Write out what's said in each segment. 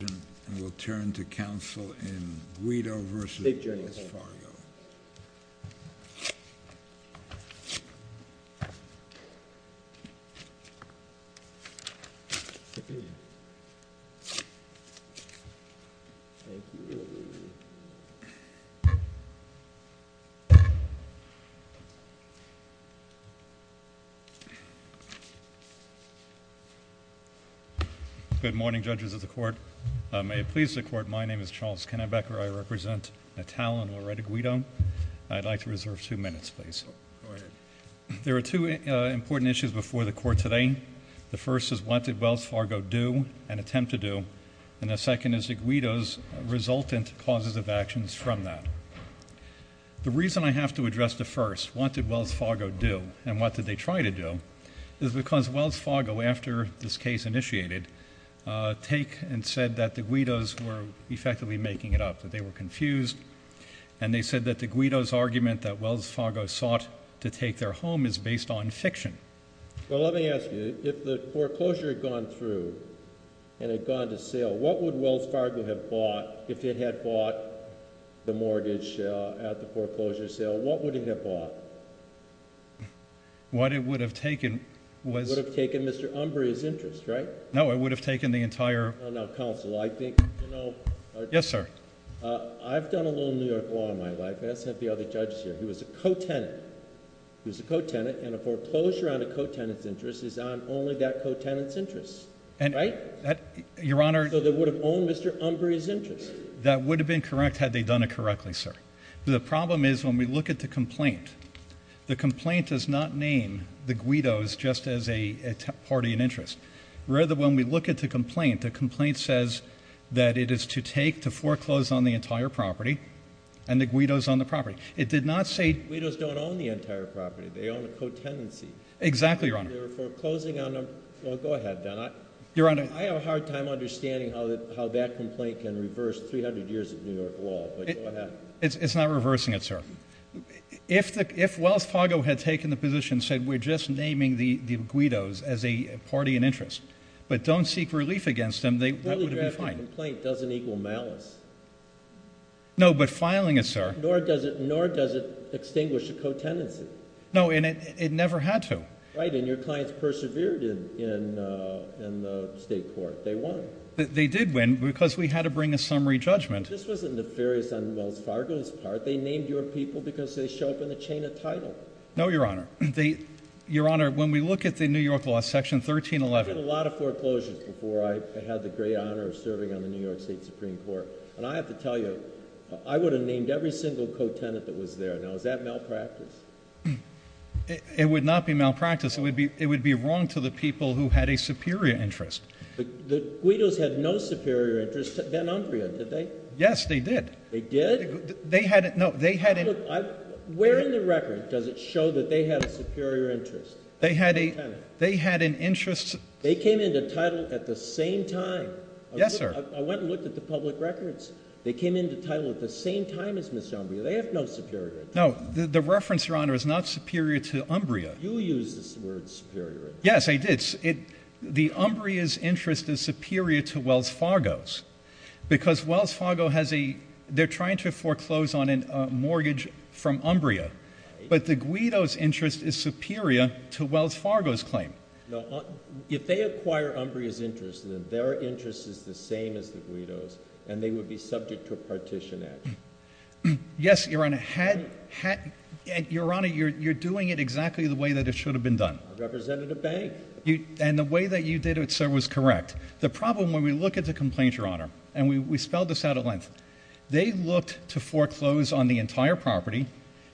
And we'll turn to counsel in Guido v. Wells Fargo. Good morning judges of the court, may it please the court, my name is Charles Kennebecker, I represent Natal and Loretta Guido, I'd like to reserve two minutes please. There are two important issues before the court today. The first is what did Wells Fargo do and attempt to do, and the second is Guido's resultant causes of actions from that. The reason I have to address the first, what did Wells Fargo do and what did they try to do, is because Wells Fargo after this case initiated, take and said that the Guidos were effectively making it up, that they were confused, and they said that the Guidos argument that Wells Fargo sought to take their home is based on fiction. Well, let me ask you, if the foreclosure had gone through and had gone to sale, what would Wells Fargo have bought if it had bought the mortgage at the foreclosure sale, what would it have bought? What it would have taken was- Would have taken Mr. Umbria's interest, right? No, it would have taken the entire- Now, counsel, I think- Yes, sir. I've done a little New York law in my life, and I sent the other judges here, he was a co-tenant. He was a co-tenant, and a foreclosure on a co-tenant's interest is on only that co-tenant's interest. Right? Your Honor- So they would have owned Mr. Umbria's interest. That would have been correct had they done it correctly, sir. The problem is when we look at the complaint, the complaint does not name the Guidos just as a party in interest. Rather, when we look at the complaint, the complaint says that it is to take the foreclosed on the entire property, and the Guidos on the property. It did not say- Guidos don't own the entire property. They own a co-tenancy. Exactly, Your Honor. They're foreclosing on a- Well, go ahead, then. Your Honor- I have a hard time understanding how that complaint can reverse 300 years of New York law, but go ahead. It's not reversing it, sir. If Wells Fargo had taken the position and said, we're just naming the Guidos as a party in interest, but don't seek relief against them, that would have been fine. A poorly drafted complaint doesn't equal malice. No, but filing it, sir- Nor does it extinguish a co-tenancy. No, and it never had to. Right, and your clients persevered in the state court. They won. They did win because we had to bring a summary judgment. This wasn't nefarious on Wells Fargo's part. They named your people because they show up in the chain of title. No, Your Honor. Your Honor, when we look at the New York law, section 1311- I did a lot of foreclosures before I had the great honor of serving on the New York State Supreme Court, and I have to tell you, I would have named every single co-tenant that was there. Now, is that malpractice? It would not be malpractice. It would be wrong to the people who had a superior interest. The Guidos had no superior interest than Umbria, did they? Yes, they did. They did? They had- No, they had- Where in the record does it show that they had a superior interest? They had an interest- They came into title at the same time. Yes, sir. I went and looked at the public records. They came into title at the same time as Ms. Umbria. They have no superior interest. No, the reference, Your Honor, is not superior to Umbria. You used the word superior interest. Yes, I did. The Umbria's interest is superior to Wells Fargo's because Wells Fargo has a- from Umbria. But the Guido's interest is superior to Wells Fargo's claim. No, if they acquire Umbria's interest, then their interest is the same as the Guido's, and they would be subject to a partition action. Yes, Your Honor. Had- Had- Your Honor, you're doing it exactly the way that it should have been done. I represented a bank. And the way that you did it, sir, was correct. The problem when we look at the complaints, Your Honor, and we spelled this out at length, they looked to foreclose on the entire property,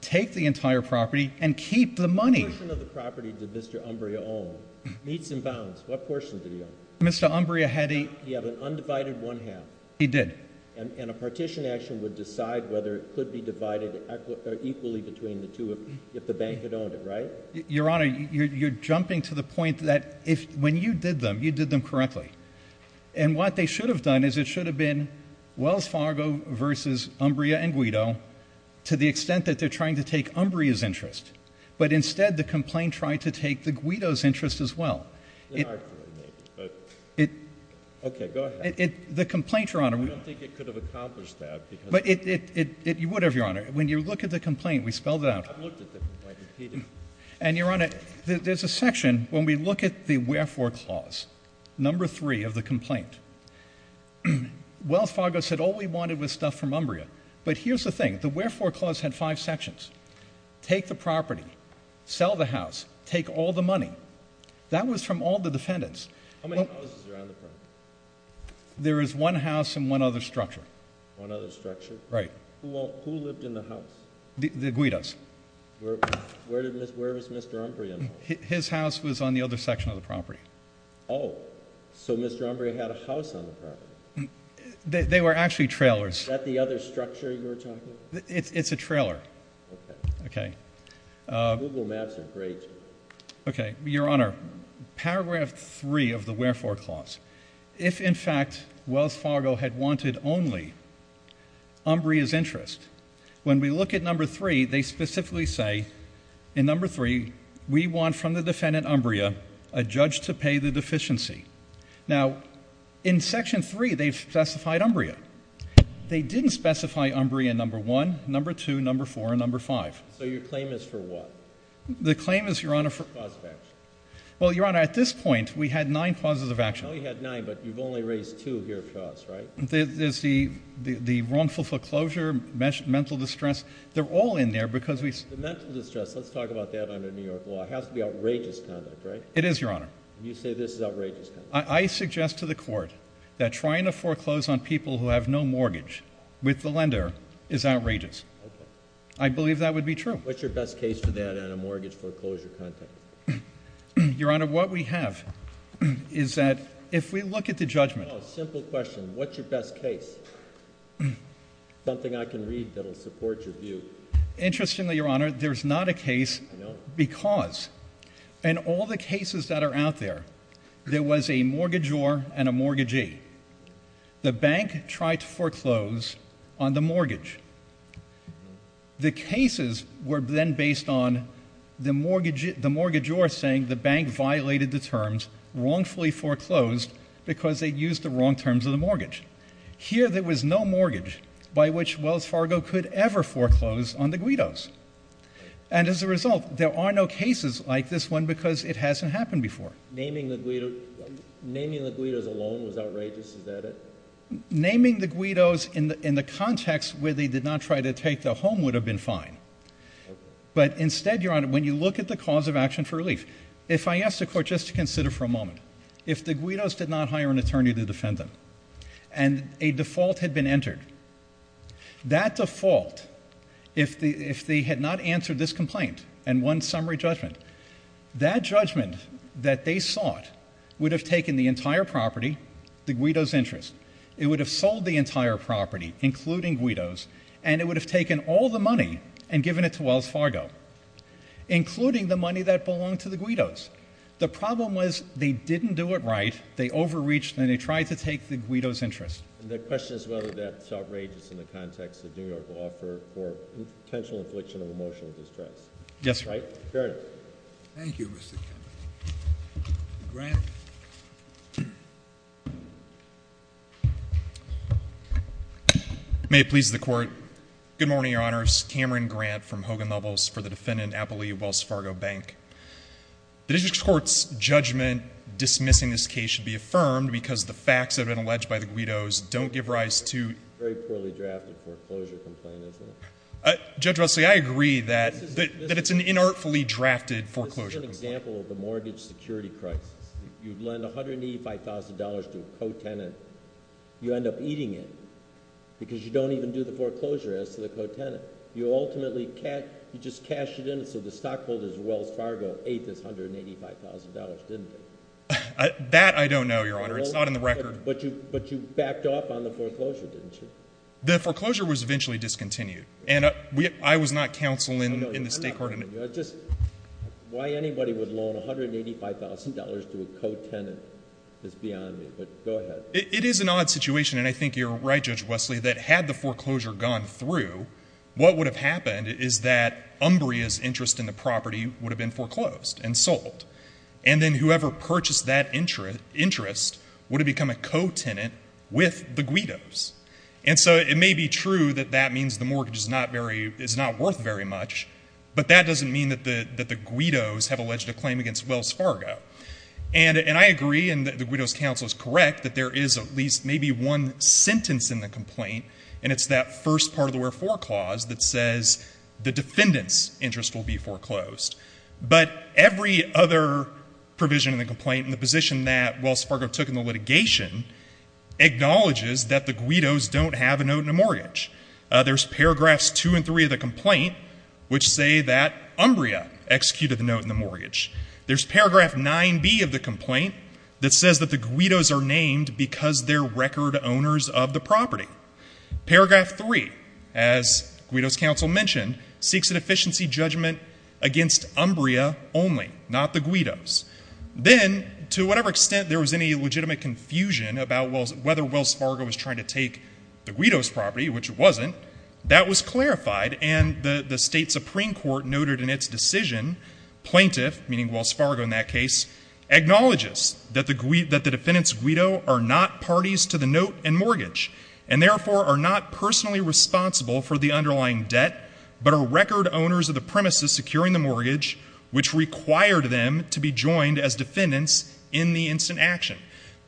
take the entire property, and keep the money. What portion of the property did Mr. Umbria own? Meats and pounds. What portion did he own? Mr. Umbria had a- He had an undivided one half. He did. And a partition action would decide whether it could be divided equally between the two if the bank had owned it, right? Your Honor, you're jumping to the point that when you did them, you did them correctly. And what they should have done is it should have been Wells Fargo versus Umbria and Guido to the extent that they're trying to take Umbria's interest. But instead, the complaint tried to take the Guido's interest as well. It- Okay. Go ahead. It- The complaint, Your Honor- I don't think it could have accomplished that because- But it- Whatever, Your Honor. When you look at the complaint, we spelled it out. I've looked at the complaint repeatedly. And, Your Honor, there's a section when we look at the wherefore clause, number three of the complaint. Wells Fargo said all we wanted was stuff from Umbria. But here's the thing. The wherefore clause had five sections. Take the property. Sell the house. Take all the money. That was from all the defendants. How many houses are on the property? There is one house and one other structure. One other structure? Right. Who lived in the house? The Guidos. Where was Mr. Umbria? His house was on the other section of the property. Oh, so Mr. Umbria had a house on the property. They were actually trailers. Is that the other structure you were talking about? It's a trailer. Okay. Okay. Google Maps are great. Okay. Your Honor, paragraph three of the wherefore clause. If, in fact, Wells Fargo had wanted only Umbria's interest, when we look at number three, they specifically say in number three, we want from the defendant, Umbria, a judge to pay the deficiency. Now, in section three, they've specified Umbria. They didn't specify Umbria number one, number two, number four, and number five. So your claim is for what? The claim is, Your Honor, for? Cause of action. Well, Your Honor, at this point, we had nine causes of action. Oh, you had nine, but you've only raised two here for us, right? There's the wrongful foreclosure, mental distress. They're all in there because we. The mental distress. Let's talk about that under New York law. It has to be outrageous conduct, right? It is, Your Honor. You say this is outrageous. I suggest to the court that trying to foreclose on people who have no mortgage with the lender is outrageous. Okay. I believe that would be true. What's your best case for that on a mortgage foreclosure context? Your Honor, what we have is that if we look at the judgment. Oh, simple question. What's your best case? Something I can read that'll support your view. Interestingly, Your Honor, there's not a case because in all the cases that are out there, there was a mortgagor and a mortgagee. The bank tried to foreclose on the mortgage. The cases were then based on the mortgagor saying the bank violated the terms, wrongfully foreclosed because they used the wrong terms of the mortgage. Here there was no mortgage by which Wells Fargo could ever foreclose on the guidos. And as a result, there are no cases like this one because it hasn't happened before. Naming the guidos alone was outrageous? Is that it? Naming the guidos in the context where they did not try to take their home would have been fine. But instead, Your Honor, when you look at the cause of action for relief, if I asked the court just to consider for a moment, if the guidos did not hire an attorney to defend them and a default had been entered, that default, if they had not answered this complaint and won summary judgment, that judgment that they sought would have taken the entire property, the guidos' interest. It would have sold the entire property, including guidos, and it would have taken all the money and given it to Wells Fargo, including the money that belonged to the guidos. The problem was they didn't do it right. They overreached and they tried to take the guidos' interest. And the question is whether that's outrageous in the context that New York will offer for potential infliction of emotional distress. Yes, sir. Very good. Thank you, Mr. Kennedy. May it please the Court. Good morning, Your Honors. Cameron Grant from Hogan Loveless for the defendant, Appley, Wells Fargo Bank. The district court's judgment dismissing this case should be affirmed because the facts that have been alleged by the guidos don't give rise to ‑‑ Very poorly drafted foreclosure complaint, isn't it? Judge Wesley, I agree that it's an inartfully drafted foreclosure complaint. This is an example of the mortgage security crisis. You lend $185,000 to a co-tenant, you end up eating it because you don't even do the foreclosure as to the co-tenant. You ultimately cashed it in so the stockholders at Wells Fargo ate this $185,000, didn't they? That I don't know, Your Honor. It's not in the record. But you backed off on the foreclosure, didn't you? The foreclosure was eventually discontinued. And I was not counsel in the state court. Why anybody would loan $185,000 to a co-tenant is beyond me. But go ahead. It is an odd situation, and I think you're right, Judge Wesley, that had the foreclosure gone through, what would have happened is that Umbria's interest in the property would have been foreclosed and sold. And then whoever purchased that interest would have become a co-tenant with the guidos. And so it may be true that that means the mortgage is not worth very much, but that doesn't mean that the guidos have alleged a claim against Wells Fargo. And I agree, and the guidos counsel is correct, that there is at least maybe one sentence in the complaint, and it's that first part of the wherefore clause that says the defendant's interest will be foreclosed. But every other provision in the complaint in the position that Wells Fargo took in the litigation acknowledges that the guidos don't have a note in the mortgage. There's paragraphs 2 and 3 of the complaint which say that Umbria executed the note in the mortgage. There's paragraph 9b of the complaint that says that the guidos are named because they're record owners of the property. Paragraph 3, as guidos counsel mentioned, seeks an efficiency judgment against Umbria only, not the guidos. Then, to whatever extent there was any legitimate confusion about whether Wells Fargo was trying to take the guidos property, which it wasn't, that was clarified, and the State Supreme Court noted in its decision, plaintiff, meaning Wells Fargo in that case, acknowledges that the defendant's guido are not parties to the note and mortgage, and therefore are not personally responsible for the underlying debt, but are record owners of the premises securing the mortgage which required them to be joined as defendants in the instant action.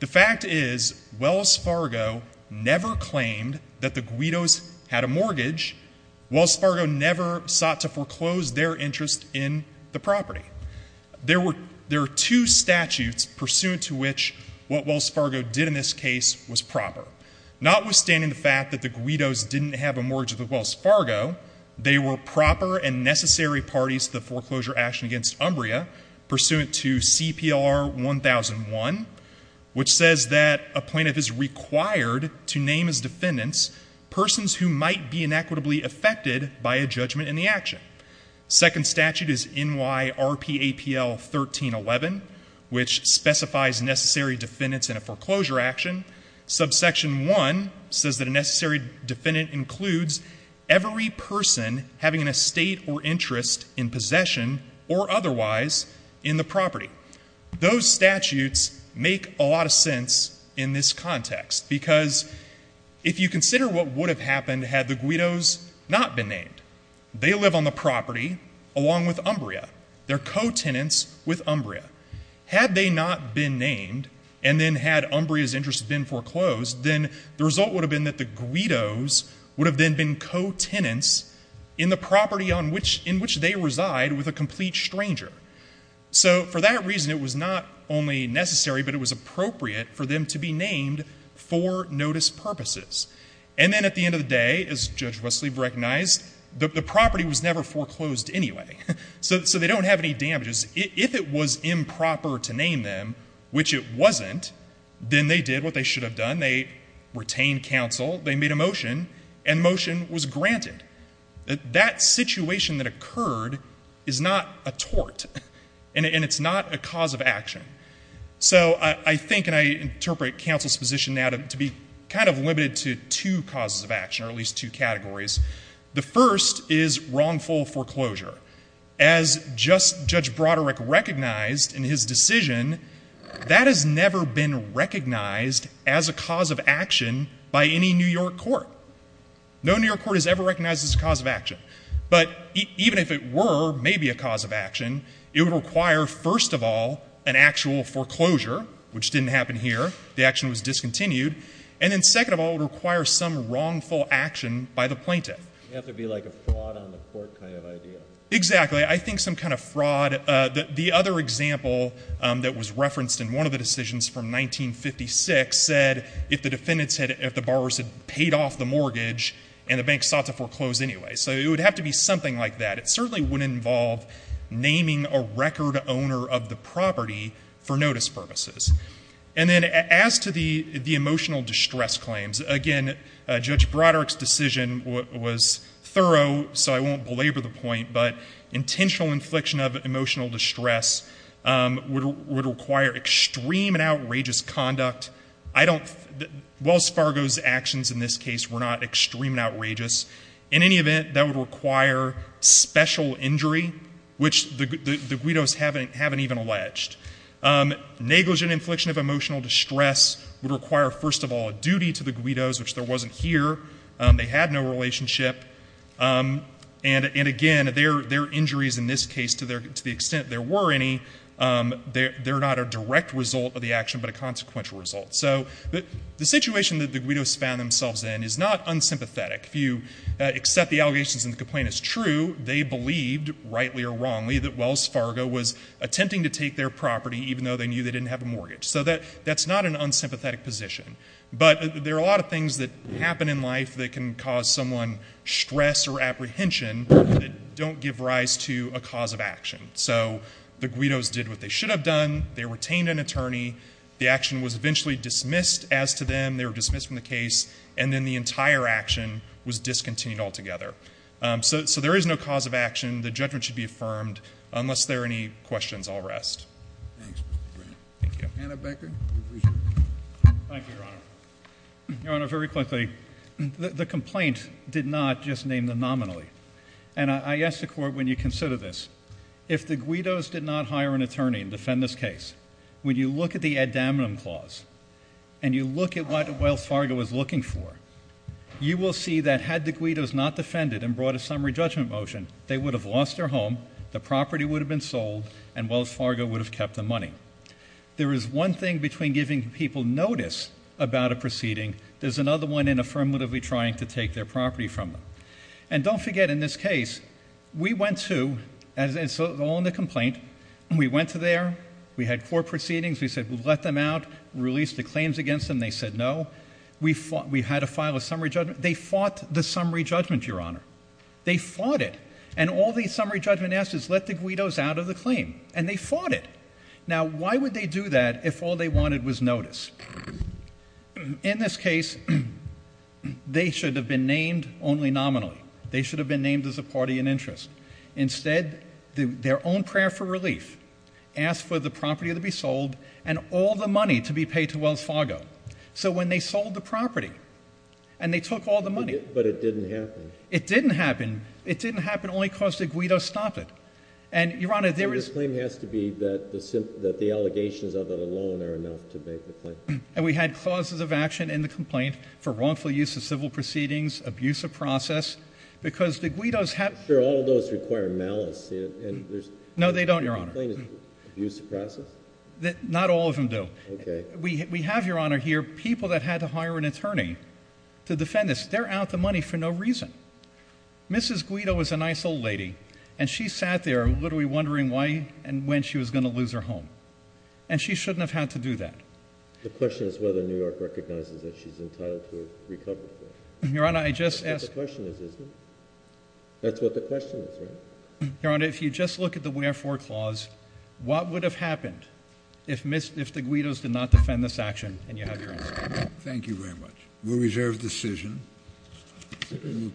The fact is, Wells Fargo never claimed that the guidos had a mortgage. Wells Fargo never sought to foreclose their interest in the property. There are two statutes pursuant to which what Wells Fargo did in this case was proper. Notwithstanding the fact that the guidos didn't have a mortgage with Wells Fargo, they were proper and necessary parties to the foreclosure action against Umbria pursuant to CPLR 1001, which says that a plaintiff is required to name as defendants persons who might be inequitably affected by a judgment in the action. Second statute is N.Y.R.P.A.P.L. 1311, which specifies necessary defendants in a foreclosure action. Subsection 1 says that a necessary defendant includes every person having an estate or interest in possession or otherwise in the property. Those statutes make a lot of sense in this context because if you consider what would have happened had the guidos not been named. They live on the property along with Umbria. They're co-tenants with Umbria. Had they not been named and then had Umbria's interest been foreclosed, then the result would have been that the guidos would have then been co-tenants in the property in which they reside with a complete stranger. So for that reason, it was not only necessary, but it was appropriate for them to be named for notice purposes. And then at the end of the day, as Judge Westleve recognized, the property was never foreclosed anyway. So they don't have any damages. If it was improper to name them, which it wasn't, then they did what they should have done. They retained counsel. They made a motion, and motion was granted. That situation that occurred is not a tort, and it's not a cause of action. So I think and I interpret counsel's position now to be kind of limited to two causes of action or at least two categories. The first is wrongful foreclosure. As Judge Broderick recognized in his decision, that has never been recognized as a cause of action by any New York court. No New York court has ever recognized this as a cause of action. But even if it were maybe a cause of action, it would require, first of all, an actual foreclosure, which didn't happen here. The action was discontinued. And then second of all, it would require some wrongful action by the plaintiff. It would have to be like a fraud on the court kind of idea. Exactly. I think some kind of fraud. The other example that was referenced in one of the decisions from 1956 said if the defendants had, if the borrowers had paid off the mortgage and the bank sought to foreclose anyway. So it would have to be something like that. It certainly wouldn't involve naming a record owner of the property for notice purposes. And then as to the emotional distress claims, again, Judge Broderick's decision was thorough, so I won't belabor the point, but intentional infliction of emotional distress would require extreme and outrageous conduct. I don't, Wells Fargo's actions in this case were not extreme and outrageous. In any event, that would require special injury, which the guidos haven't even alleged. Negligent infliction of emotional distress would require, first of all, a duty to the guidos, which there wasn't here. They had no relationship. And, again, their injuries in this case, to the extent there were any, they're not a direct result of the action but a consequential result. So the situation that the guidos found themselves in is not unsympathetic. If you accept the allegations and the complaint is true, they believed, rightly or wrongly, that Wells Fargo was attempting to take their property even though they knew they didn't have a mortgage. So that's not an unsympathetic position. But there are a lot of things that happen in life that can cause someone stress or apprehension that don't give rise to a cause of action. So the guidos did what they should have done. They retained an attorney. The action was eventually dismissed as to them. They were dismissed from the case. And then the entire action was discontinued altogether. So there is no cause of action. The judgment should be affirmed. Unless there are any questions, I'll rest. Thanks, Mr. Grant. Thank you. Anna Becker, we appreciate it. Thank you, Your Honor. Your Honor, very quickly, the complaint did not just name them nominally. And I ask the court when you consider this, if the guidos did not hire an attorney and defend this case, when you look at the ad daminum clause and you look at what Wells Fargo was looking for, you will see that had the guidos not defended and brought a summary judgment motion, they would have lost their home, the property would have been sold, and Wells Fargo would have kept the money. There is one thing between giving people notice about a proceeding. There's another one in affirmatively trying to take their property from them. And don't forget, in this case, we went to, as is all in the complaint, we went to there. We had court proceedings. We said we'll let them out. We released the claims against them. They said no. We had to file a summary judgment. They fought the summary judgment, Your Honor. They fought it. And all the summary judgment asked is let the guidos out of the claim. And they fought it. Now, why would they do that if all they wanted was notice? In this case, they should have been named only nominally. They should have been named as a party in interest. Instead, their own prayer for relief asked for the property to be sold and all the money to be paid to Wells Fargo. So when they sold the property and they took all the money. But it didn't happen. It didn't happen. It didn't happen only because the guidos stopped it. And, Your Honor, there is. The claim has to be that the allegations of it alone are enough to make the claim. And we had clauses of action in the complaint for wrongful use of civil proceedings, abuse of process. Because the guidos have. I'm sure all those require malice. No, they don't, Your Honor. Abuse of process? Not all of them do. Okay. We have, Your Honor, here people that had to hire an attorney to defend this. They're out the money for no reason. Mrs. Guido is a nice old lady. And she sat there literally wondering why and when she was going to lose her home. And she shouldn't have had to do that. The question is whether New York recognizes that she's entitled to a recovery. Your Honor, I just asked. That's what the question is, isn't it? That's what the question is, right? Your Honor, if you just look at the wherefore clause, what would have happened if the guidos did not defend this action? And you have your answer. Thank you very much. We'll reserve the decision.